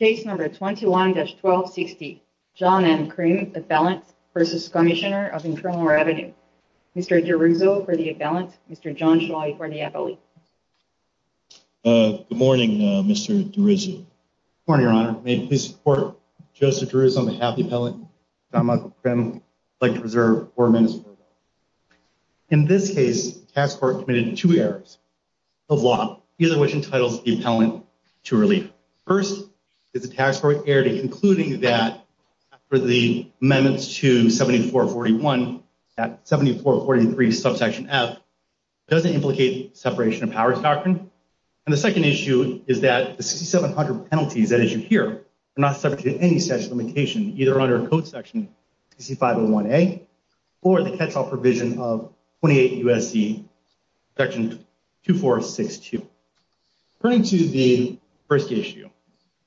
21-1260 John M. Crim, Appellant v. Cmsnr. Mr. DeRuzo v. Appellant, Mr. John Shoy v. Appellant Good morning Mr. DeRuzo. Good morning Your Honor. May it please the Court, Judge DeRuzo on behalf of the Appellant, John Michael Crim, would like to reserve 4 minutes for the hearing. In this case, the Tax Court committed two errors of law, either which entitles the Appellant to relief. First, the Tax Court erred in concluding that after the amendments to 74-41, that 74-43 subsection F doesn't implicate separation of powers doctrine. And the second issue is that the 6700 penalties, as you hear, are not subject to any statute of limitation, either under Code Section 60501A or the catch-all provision of 28 U.S.C. Section 2462. According to the first issue,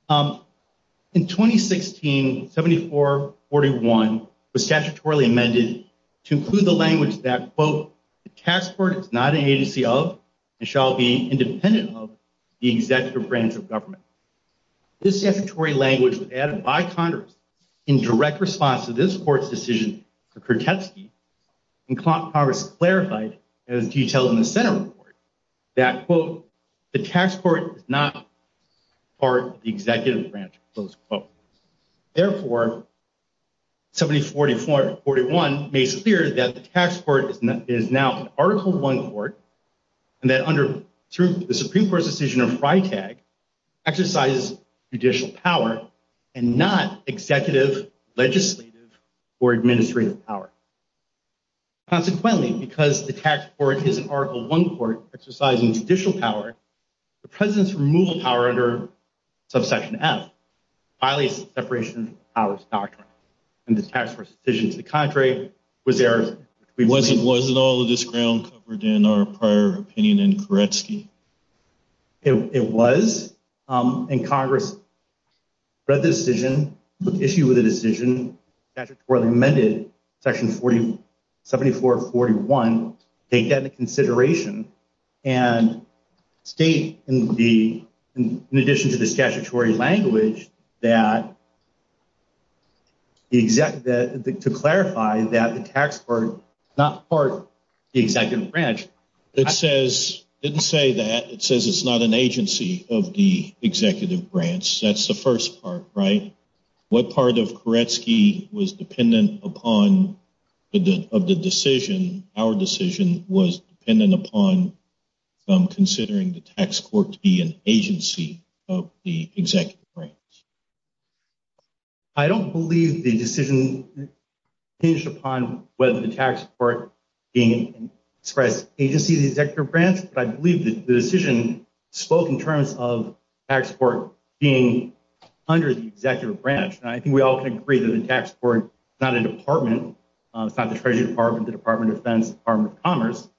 in 2016, 74-41 was statutorily amended to include the language that, quote, the Tax Court is not an agency of and shall be independent of the executive branch of government. This statutory language was added by Congress in direct response to this Court's decision for Kertetsky, and Congress clarified, as detailed in the Senate report, that, quote, the Tax Court is not part of the executive branch, close quote. Therefore, 74-41 makes it clear that the Tax Court is now an Article I court, and that under the Supreme Court's decision of FriTag, exercises judicial power and not executive, legislative, or administrative power. Consequently, because the Tax Court is an Article I court exercising judicial power, the President's removal power under subsection F violates the separation of powers doctrine, and the Tax Court's decision to the contrary was there. Wasn't all of this ground covered in our prior opinion in Kertetsky? It was, and Congress read the decision, put issue with the decision, statutorily amended Section 74-41, take that into consideration, and state in addition to the statutory language that to clarify that the Tax Court is not part of the executive branch. It says, it didn't say that, it says it's not an agency of the executive branch. That's the first part, right? What part of Kertetsky was dependent upon of the decision, our decision, was dependent upon from considering the Tax Court to be an agency of the executive branch? I don't believe the decision hinged upon whether the Tax Court being expressed agency of the executive branch, but I believe that the decision spoke in terms of the Tax Court being under the executive branch. And I think we all can agree that the Tax Court is not a department, it's not the Treasury Department, the Department of Defense, Department of Commerce,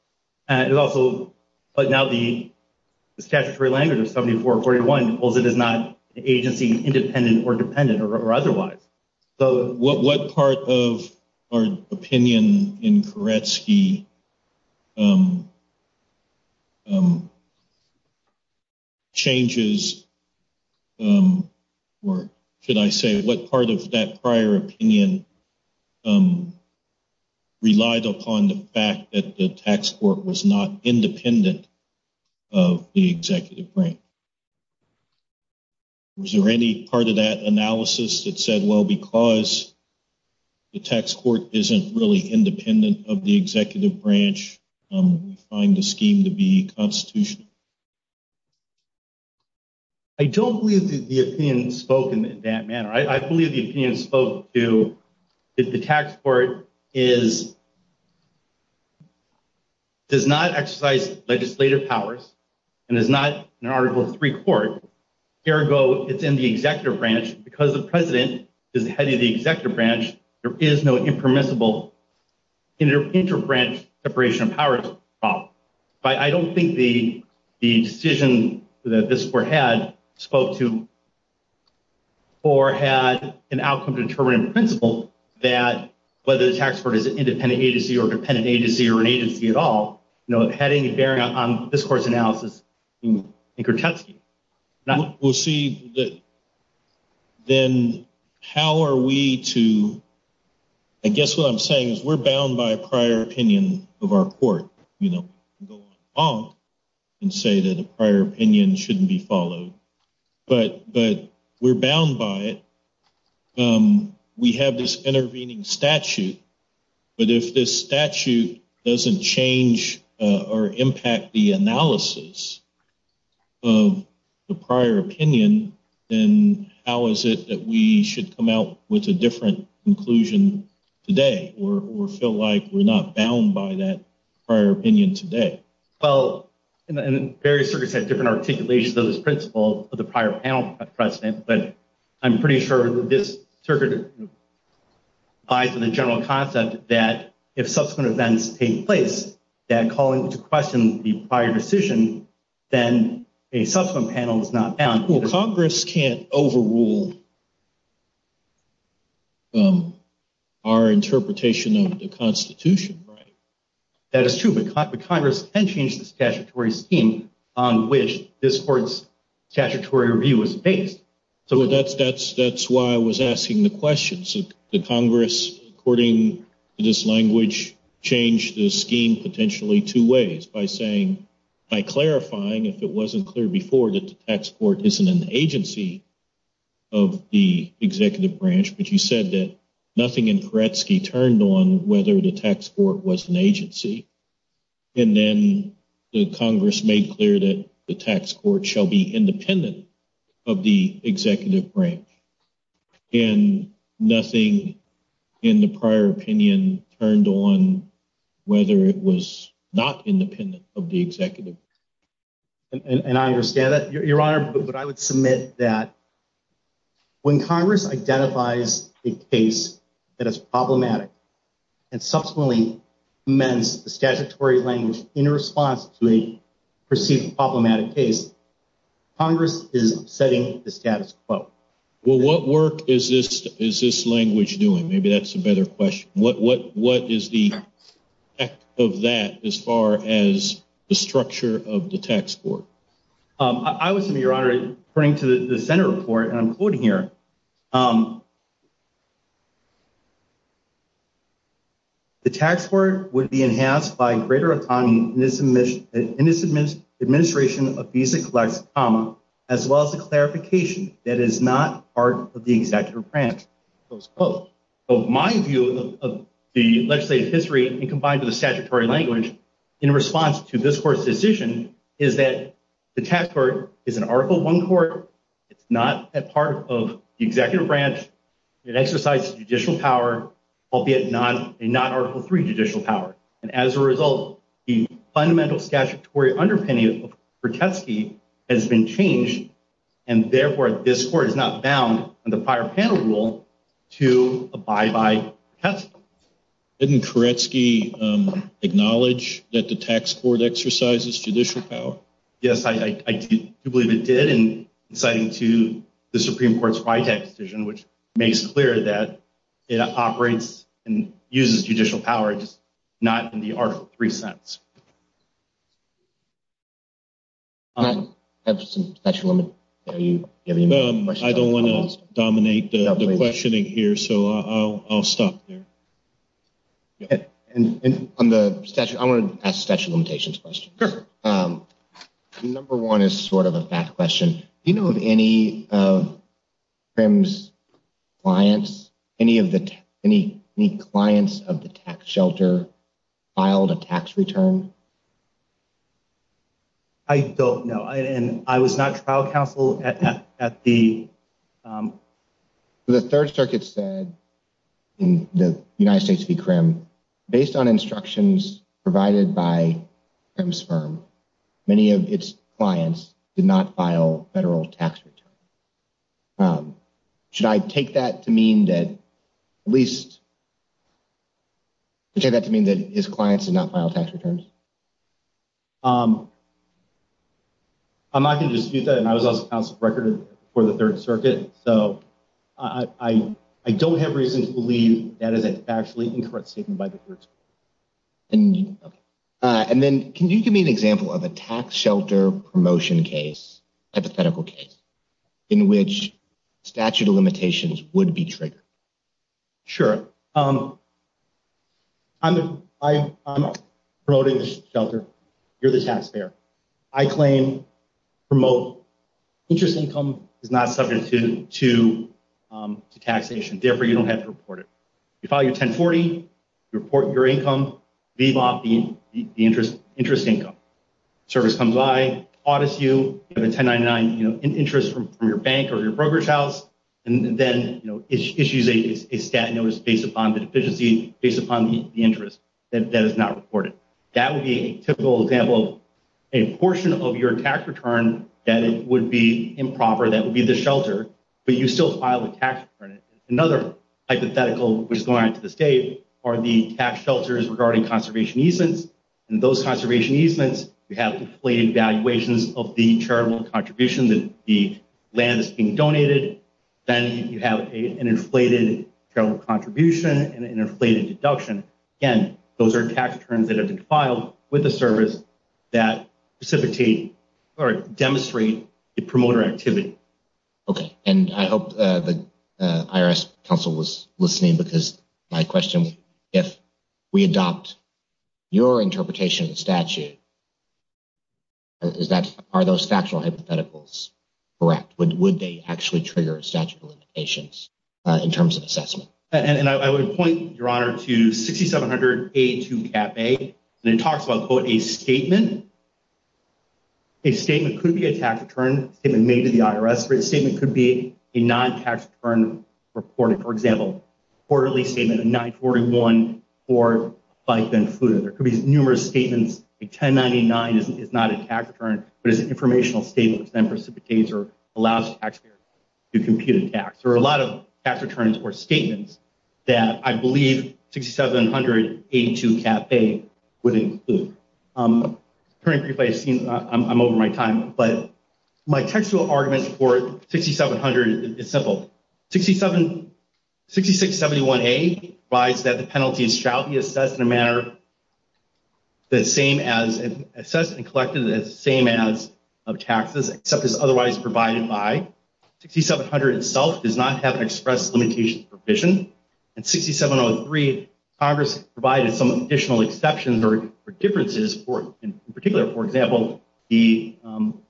but now the statutory language of 74-41 holds it as not an agency independent or dependent or otherwise. What part of our opinion in Kertetsky changes, or should I say, what part of that prior opinion relied upon the fact that the Tax Court was not independent of the executive branch? Was there any part of that analysis that said, well, because the Tax Court isn't really independent of the executive branch, we find the scheme to be constitutional? I don't believe that the opinion spoke in that manner. I believe the opinion spoke to that the Tax Court does not exercise legislative powers and is not an Article III court. Ergo, it's in the executive branch. Because the president is the head of the executive branch, there is no inter-branch separation of powers problem. I don't think the decision that this court had spoke to or had an outcome-determining principle that whether the Tax Court is an independent agency or a dependent agency or an agency at all had any bearing on this court's analysis in Kertetsky. We'll see. Then how are we to – I guess what I'm saying is we're bound by a prior opinion of our court. We can't go on and say that a prior opinion shouldn't be followed. But we're bound by it. We have this intervening statute. But if this statute doesn't change or impact the analysis of the prior opinion, then how is it that we should come out with a different conclusion today or feel like we're not bound by that prior opinion today? Well, various circuits have different articulations of this principle of the prior panel precedent, but I'm pretty sure that this circuit applies to the general concept that if subsequent events take place, that calling to question the prior decision, then a subsequent panel is not bound. Well, Congress can't overrule our interpretation of the Constitution, right? That is true, but Congress can change the statutory scheme on which this court's statutory review is based. That's why I was asking the question. So Congress, according to this language, changed the scheme potentially two ways by saying – by clarifying, if it wasn't clear before, that the tax court isn't an agency of the executive branch, but you said that nothing in Kertetsky turned on whether the tax court was an agency. And then Congress made clear that the tax court shall be independent of the executive branch, and nothing in the prior opinion turned on whether it was not independent of the executive branch. And I understand that, Your Honor, but I would submit that when Congress identifies a case that is problematic and subsequently amends the statutory language in response to a perceived problematic case, Congress is upsetting the status quo. Well, what work is this language doing? Maybe that's a better question. What is the effect of that as far as the structure of the tax court? I would submit, Your Honor, according to the Senate report, and I'm quoting here, the tax court would be enhanced by greater autonomy in its administration of visa-collects, as well as the clarification that it is not part of the executive branch. My view of the legislative history, combined with the statutory language in response to this court's decision, is that the tax court is an Article I court. It's not a part of the executive branch. It exercises judicial power, albeit a non-Article III judicial power. And as a result, the fundamental statutory underpinning of Kuretsky has been changed, and therefore this court is not bound under prior panel rule to abide by Kuretsky. Didn't Kuretsky acknowledge that the tax court exercises judicial power? Yes, I do believe it did, and citing to the Supreme Court's Witek decision, which makes clear that it operates and uses judicial power, just not in the Article III sense. I have some statute of limitations. Are you giving me a question? I don't want to dominate the questioning here, so I'll stop there. I want to ask a statute of limitations question. Sure. Number one is sort of a back question. Do you know of any of CRIM's clients, any clients of the tax shelter filed a tax return? I don't know, and I was not trial counsel at the… The Third Circuit said in the United States v. CRIM, based on instructions provided by CRIM's firm, many of its clients did not file federal tax returns. Should I take that to mean that at least… take that to mean that his clients did not file tax returns? I'm not going to dispute that, and I was also counsel for the Third Circuit, so I don't have reason to believe that is a factually incorrect statement by the Third Circuit. And then can you give me an example of a tax shelter promotion case, hypothetical case, in which statute of limitations would be triggered? Sure. I'm promoting the shelter. You're the taxpayer. I claim, promote, interest income is not subject to taxation. Therefore, you don't have to report it. You file your 1040, you report your income, VBOP, the interest income. Service comes by, audits you, you have a 1099 interest from your bank or your brokerage house, and then issues a stat notice based upon the deficiency, based upon the interest. That is not reported. That would be a typical example of a portion of your tax return that would be improper, that would be the shelter, but you still file a tax return. Another hypothetical, which is going on to this date, are the tax shelters regarding conservation easements. In those conservation easements, you have inflated valuations of the charitable contribution that the land is being donated. Then you have an inflated charitable contribution and an inflated deduction. Again, those are tax returns that have been filed with the service that precipitate or demonstrate the promoter activity. Okay. And I hope the IRS counsel was listening because my question, if we adopt your interpretation of the statute, is that, are those factual hypotheticals correct? Would they actually trigger a statute of limitations in terms of assessment? And I would point, Your Honor, to 6700A2-CAP-A, and it talks about, quote, a statement. A statement could be a tax return, a statement made to the IRS. A statement could be a non-tax return reported. For example, a quarterly statement of 941, or by Ben-Fuda. There could be numerous statements. A 1099 is not a tax return, but it's an informational statement which then precipitates or allows taxpayers to compute a tax. There are a lot of tax returns or statements that I believe 6700A2-CAP-A would include. I'm over my time, but my textual argument for 6700 is simple. 6671A provides that the penalties shall be assessed and collected in the same manner of taxes except as otherwise provided by. 6700 itself does not have an express limitation provision. In 6703, Congress provided some additional exceptions or differences, in particular, for example, the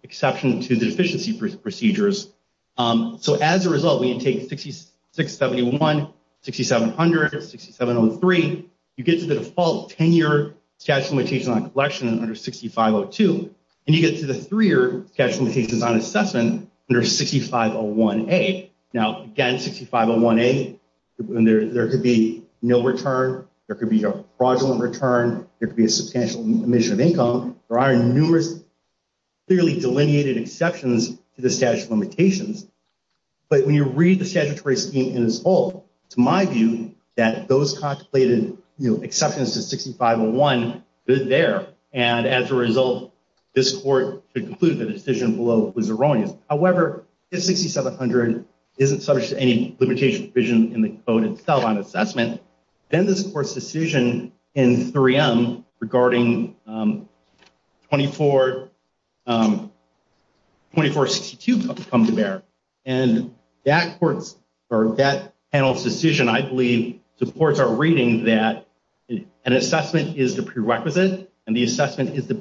exception to the efficiency procedures. So as a result, when you take 6671, 6700, 6703, you get to the default 10-year statute of limitations on collection under 6502, and you get to the three-year statute of limitations on assessment under 6501A. Now, again, 6501A, there could be no return. There could be a fraudulent return. There are numerous clearly delineated exceptions to the statute of limitations. But when you read the statutory scheme in its whole, it's my view that those contemplated exceptions to 6501 fit there, and as a result, this Court could conclude the decision below was erroneous. However, if 6700 isn't subject to any limitation provision in the code itself on assessment, then this Court's decision in 3M regarding 2462 comes to bear, and that panel's decision, I believe, supports our reading that an assessment is the prerequisite, and the assessment is the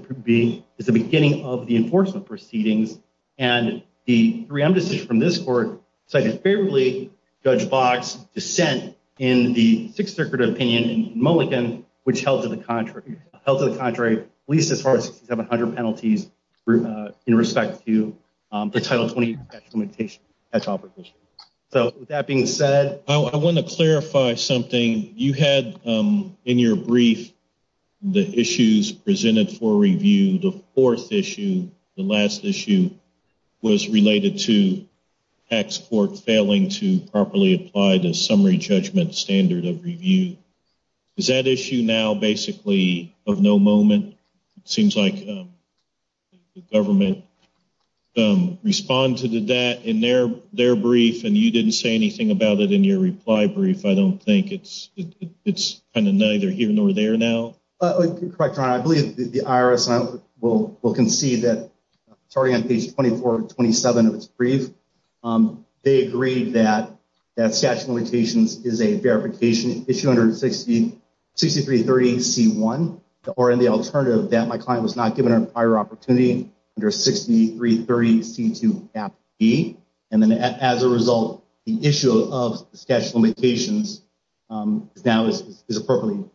beginning of the enforcement proceedings, and the 3M decision from this Court cited favorably Judge Boggs' dissent in the Sixth Circuit opinion in Mulliken, which held to the contrary at least as far as 6700 penalties in respect to the Title 20 statute of limitations. So with that being said— I want to clarify something. You had in your brief the issues presented for review. The fourth issue, the last issue, was related to tax court failing to properly apply the summary judgment standard of review. Is that issue now basically of no moment? It seems like the government responded to that in their brief, and you didn't say anything about it in your reply brief. I don't think it's kind of neither here nor there now. Correct, Your Honor. I believe the IRS will concede that starting on page 2427 of its brief, they agreed that statute of limitations is a verification issue under 6330C1, or in the alternative that my client was not given a prior opportunity under 6330C2-B. And then as a result, the issue of statute of limitations now is appropriately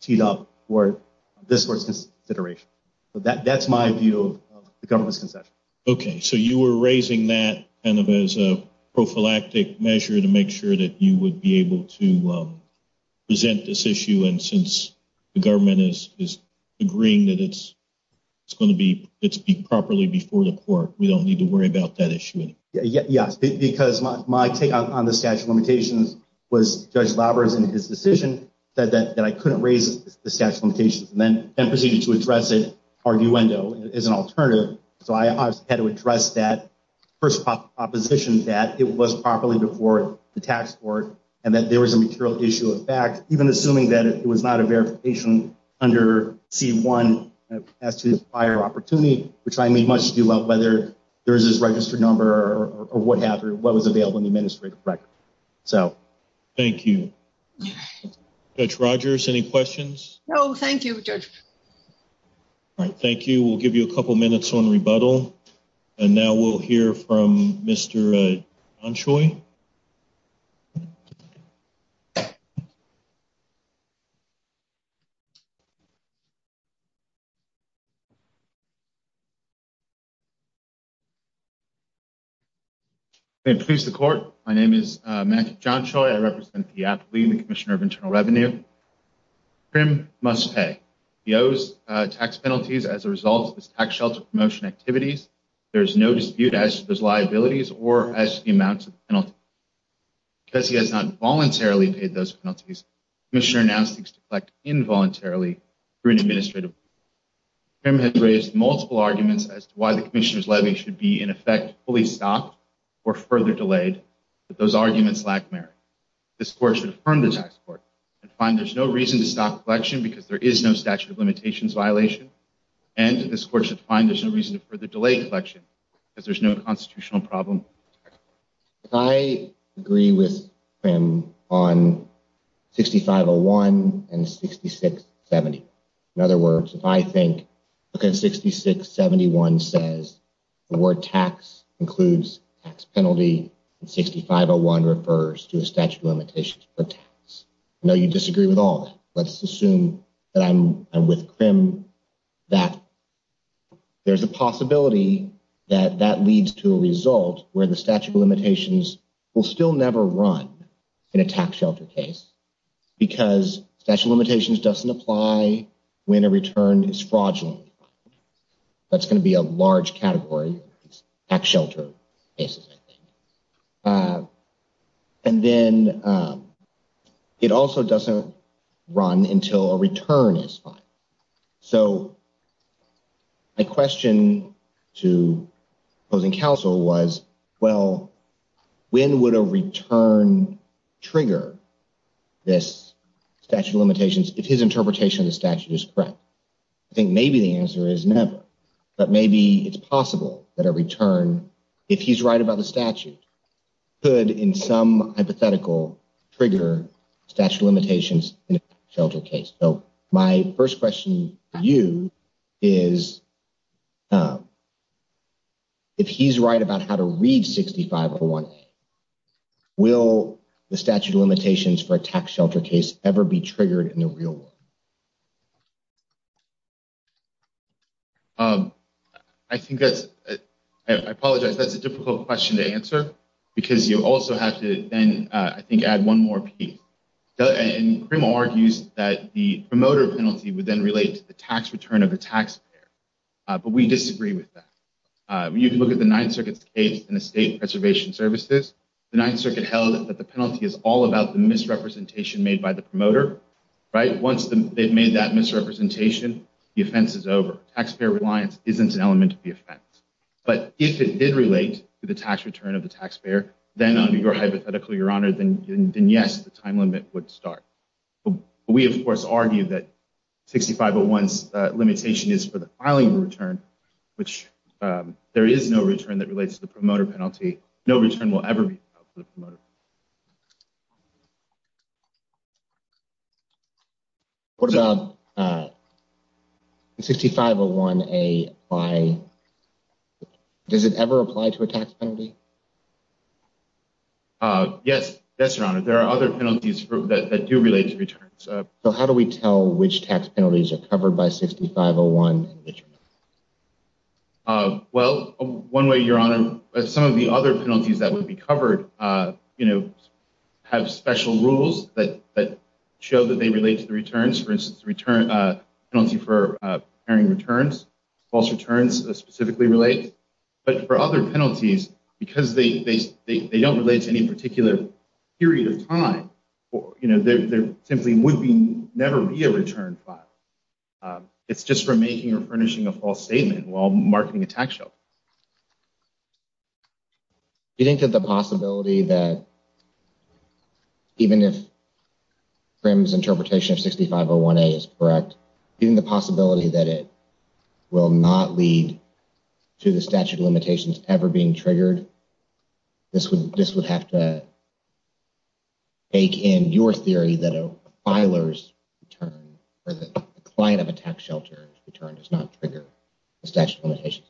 teed up for this Court's consideration. So that's my view of the government's concession. Okay. So you were raising that kind of as a prophylactic measure to make sure that you would be able to present this issue, and since the government is agreeing that it's going to be properly before the Court, we don't need to worry about that issue anymore? Yes, because my take on the statute of limitations was Judge Labras in his decision said that I couldn't raise the statute of limitations and then proceeded to address it arguendo as an alternative. So I had to address that first proposition that it was properly before the tax court and that there was a material issue of fact, even assuming that it was not a verification under C1 as to prior opportunity, which I may much do well whether there is this registered number or what was available in the administrative record. Thank you. Judge Rogers, any questions? No, thank you, Judge. All right. Thank you. We'll give you a couple minutes on rebuttal, and now we'll hear from Mr. John Choi. May it please the Court. My name is Matthew John Choi. I represent the appellee and the Commissioner of Internal Revenue. Krim must pay. He owes tax penalties as a result of his tax shelter promotion activities. There is no dispute as to those liabilities or as to the amounts of the penalty. Because he has not voluntarily paid those penalties, the Commissioner now seeks to collect involuntarily through an administrative. Krim has raised multiple arguments as to why the Commissioner's levy should be, in effect, fully stopped or further delayed, but those arguments lack merit. This Court should affirm the tax court and find there's no reason to stop collection because there is no statute of limitations violation, and this Court should find there's no reason to further delay collection because there's no constitutional problem. I agree with Krim on 6501 and 6670. In other words, if I think, okay, 6671 says the word tax includes tax penalty, and 6501 refers to a statute of limitations for tax. I know you disagree with all that. Let's assume that I'm with Krim, that there's a possibility that that leads to a result where the statute of limitations will still never run in a tax shelter case because statute of limitations doesn't apply when a return is fraudulent. That's going to be a large category, tax shelter cases, I think. And then it also doesn't run until a return is filed. So my question to opposing counsel was, well, when would a return trigger this statute of limitations if his interpretation of the statute is correct? I think maybe the answer is never, but maybe it's possible that a return, if he's right about the statute, could, in some hypothetical, trigger statute of limitations in a shelter case. So my first question to you is, if he's right about how to read 6501A, will the statute of limitations for a tax shelter case ever be triggered in the real world? I think that's – I apologize. That's a difficult question to answer because you also have to then, I think, add one more piece. And Crimmel argues that the promoter penalty would then relate to the tax return of the taxpayer. But we disagree with that. You can look at the Ninth Circuit's case in the State Preservation Services. The Ninth Circuit held that the penalty is all about the misrepresentation made by the promoter, right? Once they've made that misrepresentation, the offense is over. But if it did relate to the tax return of the taxpayer, then under your hypothetical, Your Honor, then yes, the time limit would start. We, of course, argue that 6501's limitation is for the filing of a return, which there is no return that relates to the promoter penalty. No return will ever be filed for the promoter. What about 6501A by – does it ever apply to a tax penalty? Yes. Yes, Your Honor. There are other penalties that do relate to returns. So how do we tell which tax penalties are covered by 6501? Well, one way, Your Honor, some of the other penalties that would be covered have special rules that show that they relate to the returns. For instance, penalty for preparing returns, false returns specifically relate. But for other penalties, because they don't relate to any particular period of time, there simply would never be a return filed. It's just for making or furnishing a false statement while marketing a tax show. Do you think that the possibility that even if Crim's interpretation of 6501A is correct, even the possibility that it will not lead to the statute of limitations ever being triggered, this would have to take in your theory that a filer's return or the client of a tax shelter's return does not trigger the statute of limitations?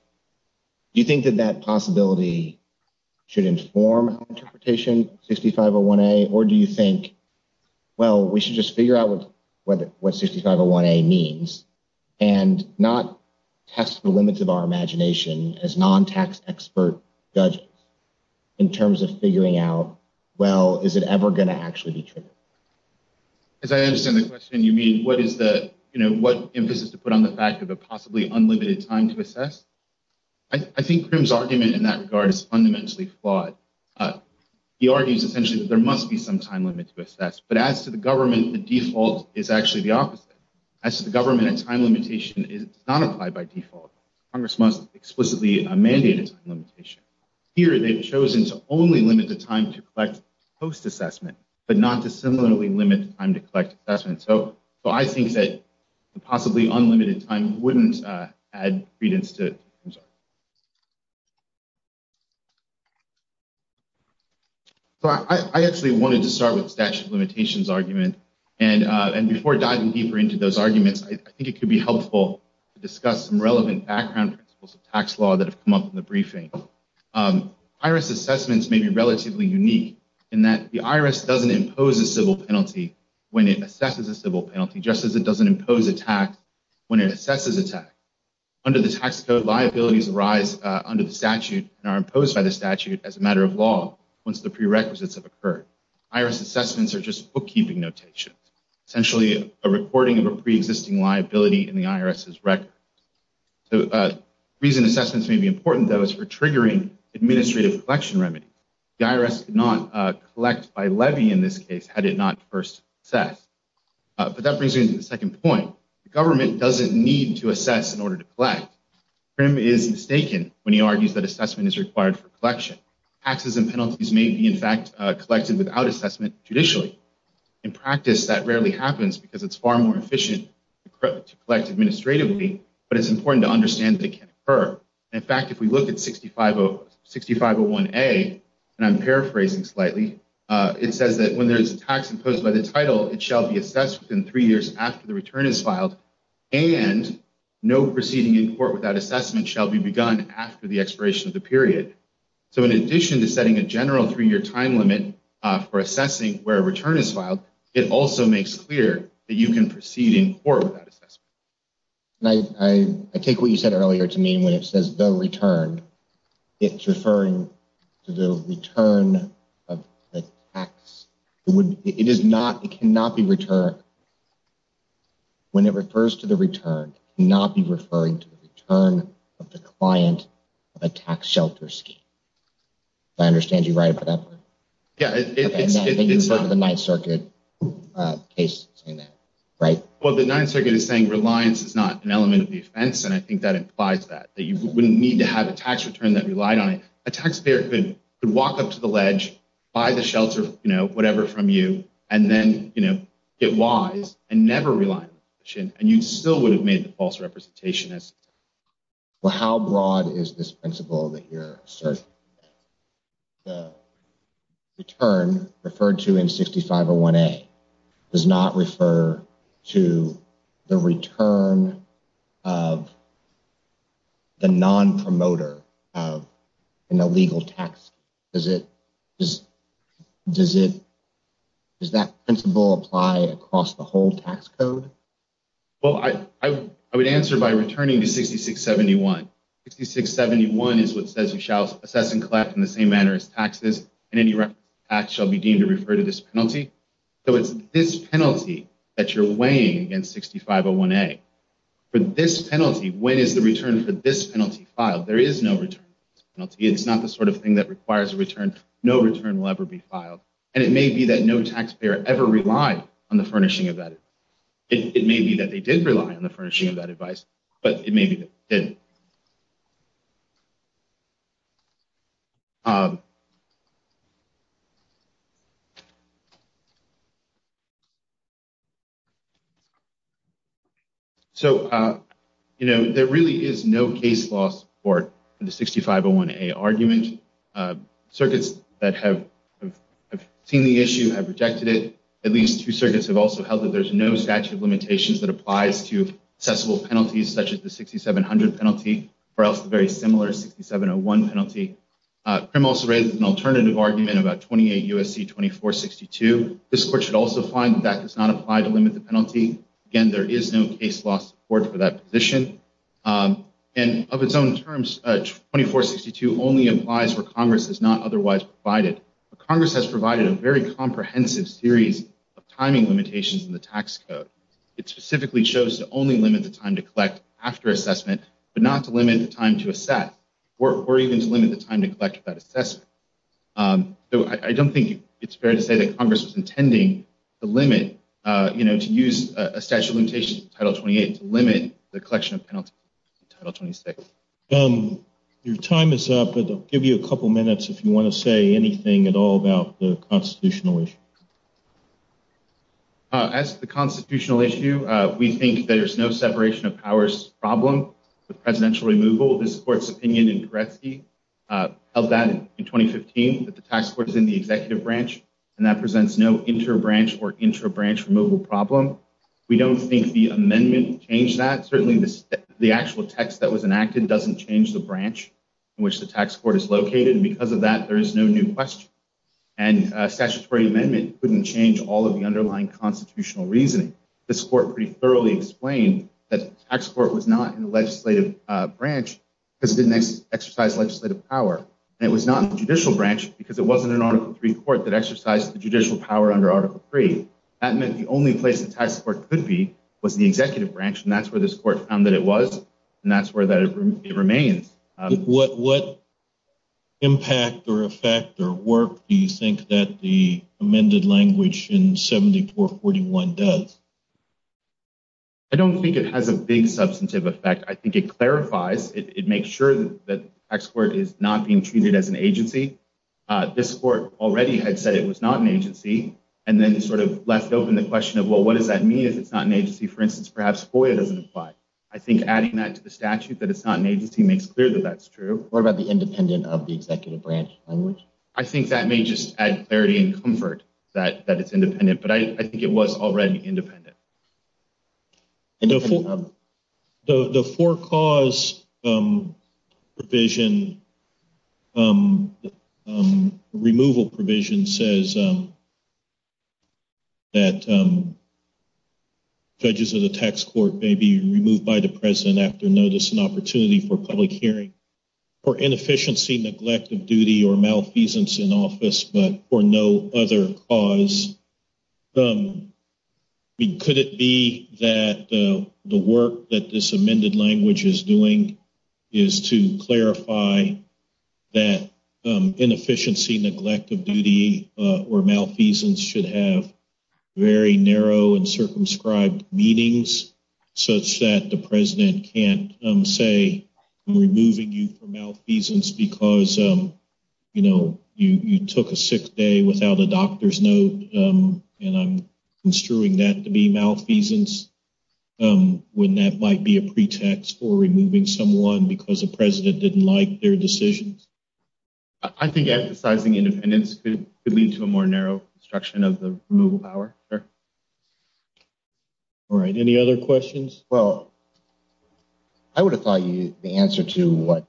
Do you think that that possibility should inform interpretation of 6501A, or do you think, well, we should just figure out what 6501A means and not test the limits of our imagination as non-tax expert judges in terms of figuring out, well, is it ever going to actually be triggered? As I understand the question, you mean what is the, you know, what emphasis to put on the fact of a possibly unlimited time to assess? I think Crim's argument in that regard is fundamentally flawed. He argues essentially that there must be some time limit to assess, but as to the government, the default is actually the opposite. As to the government, a time limitation is not applied by default. Congress must explicitly mandate a time limitation. Here, they've chosen to only limit the time to collect post-assessment, but not to similarly limit the time to collect assessment. So I think that the possibly unlimited time wouldn't add credence to it. I actually wanted to start with the statute of limitations argument, and before diving deeper into those arguments, I think it could be helpful to discuss some relevant background principles of tax law that have come up in the briefing. IRS assessments may be relatively unique in that the IRS doesn't impose a civil penalty when it assesses a civil penalty, just as it doesn't impose a tax when it assesses a tax. Under the tax code, liabilities arise under the statute and are imposed by the statute as a matter of law once the prerequisites have occurred. IRS assessments are just bookkeeping notations, essentially a recording of a pre-existing liability in the IRS's record. The reason assessments may be important, though, is for triggering administrative collection remedies. The IRS could not collect by levy in this case had it not first assessed. But that brings me to the second point. The government doesn't need to assess in order to collect. Crim is mistaken when he argues that assessment is required for collection. Taxes and penalties may be, in fact, collected without assessment judicially. In practice, that rarely happens because it's far more efficient to collect administratively, but it's important to understand that it can occur. In fact, if we look at 6501A, and I'm paraphrasing slightly, it says that when there is a tax imposed by the title, it shall be assessed within three years after the return is filed, and no proceeding in court without assessment shall be begun after the expiration of the period. So in addition to setting a general three-year time limit for assessing where a return is filed, it also makes clear that you can proceed in court without assessment. I take what you said earlier to mean when it says the return. It's referring to the return of the tax. It is not, it cannot be returned. When it refers to the return, it cannot be referring to the return of the client of a tax shelter scheme. I understand you're right about that part. Yeah, it's... I think you're referring to the Ninth Circuit case saying that, right? Well, the Ninth Circuit is saying reliance is not an element of the offense, and I think that implies that, that you wouldn't need to have a tax return that relied on it. A taxpayer could walk up to the ledge, buy the shelter, you know, whatever from you, and then, you know, get wise and never rely on it, and you still would have made the false representation. Well, how broad is this principle that you're asserting? The return referred to in 6501A does not refer to the return of the non-promoter of an illegal tax. Does it, does it, does that principle apply across the whole tax code? Well, I would answer by returning to 6671. 6671 is what says you shall assess and collect in the same manner as taxes, and any reference to tax shall be deemed to refer to this penalty. So it's this penalty that you're weighing against 6501A. For this penalty, when is the return for this penalty filed? There is no return for this penalty. It's not the sort of thing that requires a return. No return will ever be filed. And it may be that no taxpayer ever relied on the furnishing of that. It may be that they did rely on the furnishing of that advice, but it may be that they didn't. So, you know, there really is no case law support for the 6501A argument. Circuits that have seen the issue have rejected it. At least two circuits have also held that there's no statute of limitations that applies to accessible penalties, such as the 6700 penalty, or else the very similar 6701 penalty. CRIM also raises an alternative argument about 28 U.S.C. 2462. This court should also find that that does not apply to limit the penalty. Again, there is no case law support for that position. And of its own terms, 2462 only applies where Congress has not otherwise provided. Congress has provided a very comprehensive series of timing limitations in the tax code. It specifically shows to only limit the time to collect after assessment, but not to limit the time to assess, or even to limit the time to collect that assessment. So I don't think it's fair to say that Congress was intending to limit, you know, to use a statute of limitations in Title 28 to limit the collection of penalties in Title 26. Your time is up, but I'll give you a couple minutes if you want to say anything at all about the constitutional issue. As to the constitutional issue, we think that there's no separation of powers problem with presidential removal. This court's opinion in Koretsky held that in 2015 that the tax court is in the executive branch, and that presents no inter-branch or intra-branch removal problem. We don't think the amendment changed that. Certainly, the actual text that was enacted doesn't change the branch in which the tax court is located, and because of that, there is no new question. And a statutory amendment couldn't change all of the underlying constitutional reasoning. This court pretty thoroughly explained that the tax court was not in the legislative branch because it didn't exercise legislative power, and it was not in the judicial branch because it wasn't an Article III court that exercised the judicial power under Article III. That meant the only place the tax court could be was the executive branch, and that's where this court found that it was, and that's where it remains. What impact or effect or work do you think that the amended language in 7441 does? I don't think it has a big substantive effect. I think it clarifies. It makes sure that the tax court is not being treated as an agency. This court already had said it was not an agency, and then sort of left open the question of, well, what does that mean if it's not an agency? For instance, perhaps FOIA doesn't apply. I think adding that to the statute that it's not an agency makes clear that that's true. What about the independent of the executive branch language? I think that may just add clarity and comfort that it's independent, but I think it was already independent. The for-cause removal provision says that judges of the tax court may be removed by the president after notice and opportunity for public hearing for inefficiency, neglect of duty, or malfeasance in office, but for no other cause. Could it be that the work that this amended language is doing is to clarify that inefficiency, neglect of duty, or malfeasance should have very narrow and circumscribed meanings, such that the president can't say, removing you for malfeasance because you took a sick day without a doctor's note, and I'm construing that to be malfeasance, when that might be a pretext for removing someone because the president didn't like their decisions? I think emphasizing independence could lead to a more narrow construction of the removal power, sir. All right. Any other questions? Well, I would have thought the answer to what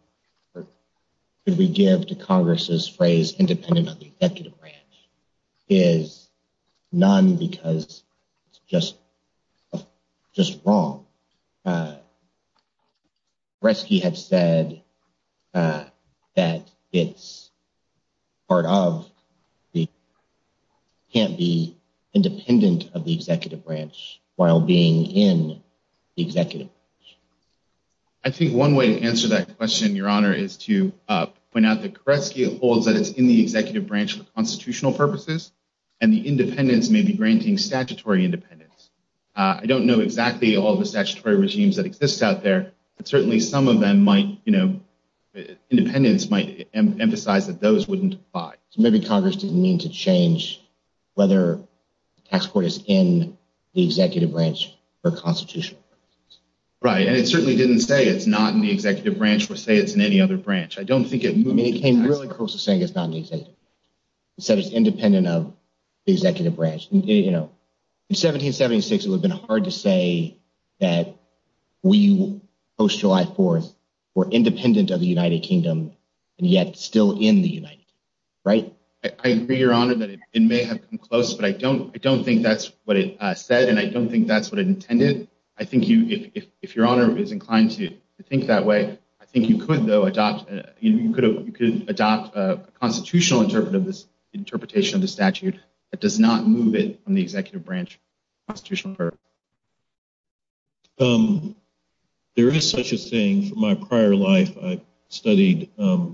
could we give to Congress's phrase independent of the executive branch is none because it's just wrong. Koresky had said that it can't be independent of the executive branch while being in the executive branch. I think one way to answer that question, Your Honor, is to point out that Koresky holds that it's in the executive branch for constitutional purposes, and the independents may be granting statutory independence. I don't know exactly all the statutory regimes that exist out there, but certainly some of them might, you know, independents might emphasize that those wouldn't apply. So maybe Congress didn't mean to change whether the tax court is in the executive branch for constitutional purposes. Right, and it certainly didn't say it's not in the executive branch or say it's in any other branch. I don't think it moved to the tax court. I mean, it came really close to saying it's not in the executive branch. It said it's independent of the executive branch. In 1776, it would have been hard to say that we post-July 4th were independent of the United Kingdom, and yet still in the United Kingdom, right? I agree, Your Honor, that it may have come close, but I don't think that's what it said, and I don't think that's what it intended. I think if Your Honor is inclined to think that way, I think you could, though, There is such a thing. From my prior life, I studied a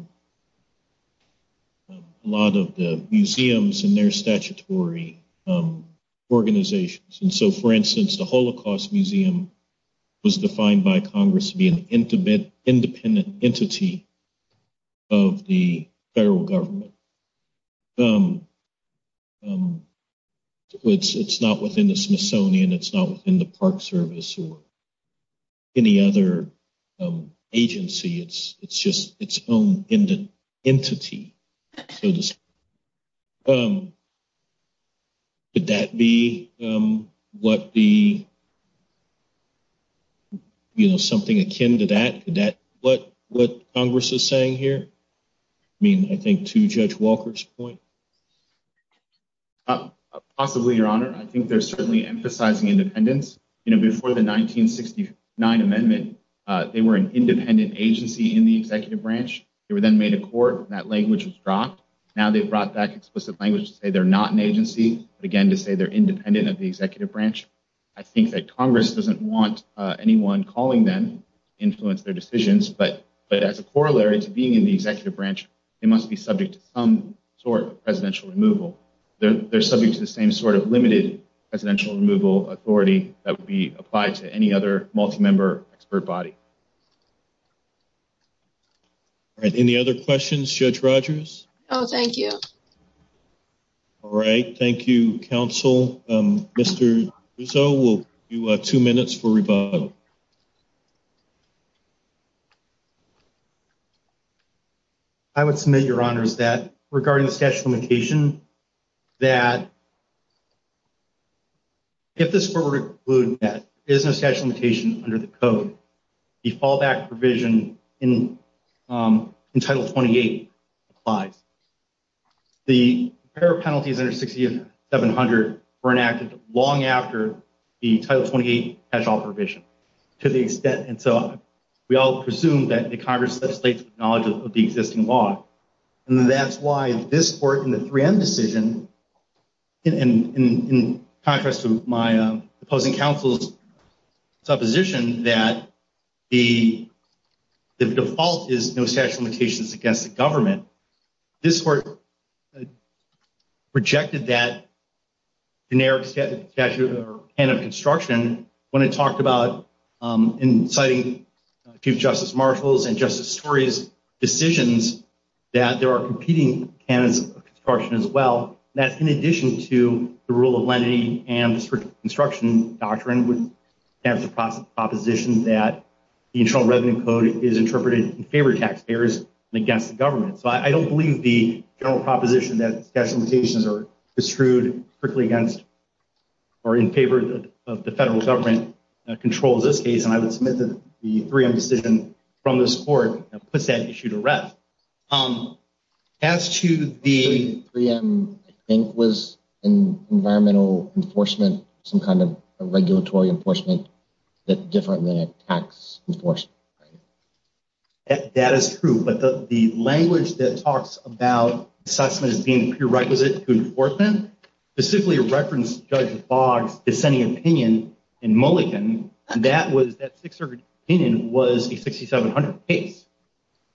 lot of the museums and their statutory organizations, and so, for instance, the Holocaust Museum was defined by Congress to be an independent entity of the federal government. It's not within the Smithsonian. It's not within the Park Service or any other agency. It's just its own entity, so to speak. Could that be something akin to that? What Congress is saying here? I mean, I think to Judge Walker's point. Possibly, Your Honor. I think they're certainly emphasizing independence. You know, before the 1969 amendment, they were an independent agency in the executive branch. They were then made a court, and that language was dropped. Now they've brought back explicit language to say they're not an agency, but again to say they're independent of the executive branch. I think that Congress doesn't want anyone calling them to influence their decisions, but as a corollary to being in the executive branch, they must be subject to some sort of presidential removal. They're subject to the same sort of limited presidential removal authority that would be applied to any other multi-member expert body. All right, any other questions, Judge Rogers? No, thank you. All right, thank you, counsel. Mr. Rousseau, we'll give you two minutes for rebuttal. I would submit, Your Honors, that regarding the statute of limitation, that if this court were to conclude that there is no statute of limitation under the code, the fallback provision in Title 28 applies. The repair penalties under 6700 were enacted long after the Title 28 catch-all provision to the extent, and so we all presume that the Congress legislates with knowledge of the existing law, and that's why this court in the 3M decision, in contrast to my opposing counsel's supposition that the default is no statute of limitation, this court rejected that generic statute or canon of construction when it talked about inciting Chief Justice Marshall's and Justice Story's decisions that there are competing canons of construction as well, and that's in addition to the rule of lenity and the strict construction doctrine with the proposition that the Internal Revenue Code is interpreted in favor of taxpayers and against the government. So I don't believe the general proposition that statute of limitations are construed strictly against or in favor of the federal government controls this case, and I would submit that the 3M decision from this court puts that issue to rest. As to the 3M, I think it was environmental enforcement, some kind of regulatory enforcement, but different than a tax enforcement. That is true, but the language that talks about assessment as being prerequisite to enforcement, specifically referenced Judge Boggs' dissenting opinion in Mulligan, and that was that Sixth Circuit opinion was a 6700 case.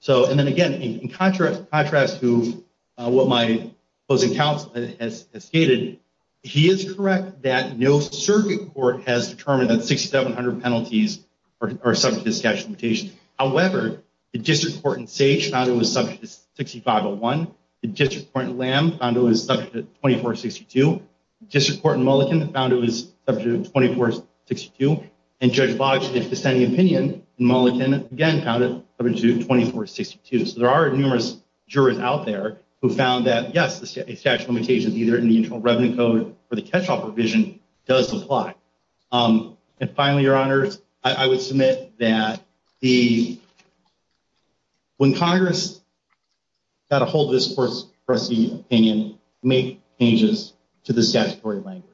And then again, in contrast to what my closing counsel has stated, he is correct that no circuit court has determined that 6700 penalties are subject to statute of limitations. However, the District Court in Sage found it was subject to 6501. The District Court in Lamb found it was subject to 2462. The District Court in Mulligan found it was subject to 2462. And Judge Boggs' dissenting opinion in Mulligan, again, found it subject to 2462. So there are numerous jurors out there who found that, yes, the statute of limitations, either in the Internal Revenue Code or the catch-all provision, does apply. And finally, Your Honors, I would submit that when Congress got a hold of this court's pressing opinion, it made changes to the statutory language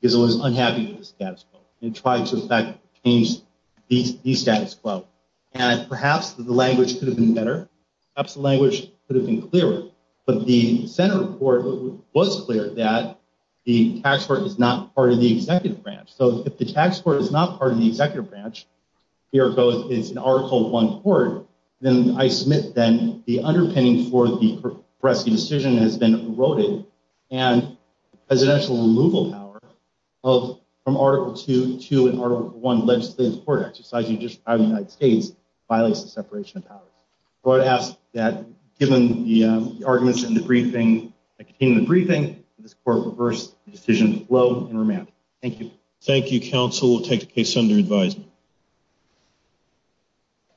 because it was unhappy with the status quo. It tried to, in fact, change the status quo. And perhaps the language could have been better. Perhaps the language could have been clearer. But the Senate report was clear that the tax court is not part of the executive branch. So if the tax court is not part of the executive branch, here it goes, it's an Article I court, then I submit then the underpinning for the pressing decision has been eroded and presidential removal power from Article II to an Article I legislative court exercise in the United States violates the separation of powers. So I would ask that, given the arguments in the briefing, this court reverse the decision flow and remand. Thank you. Thank you, counsel. We'll take the case under advisement.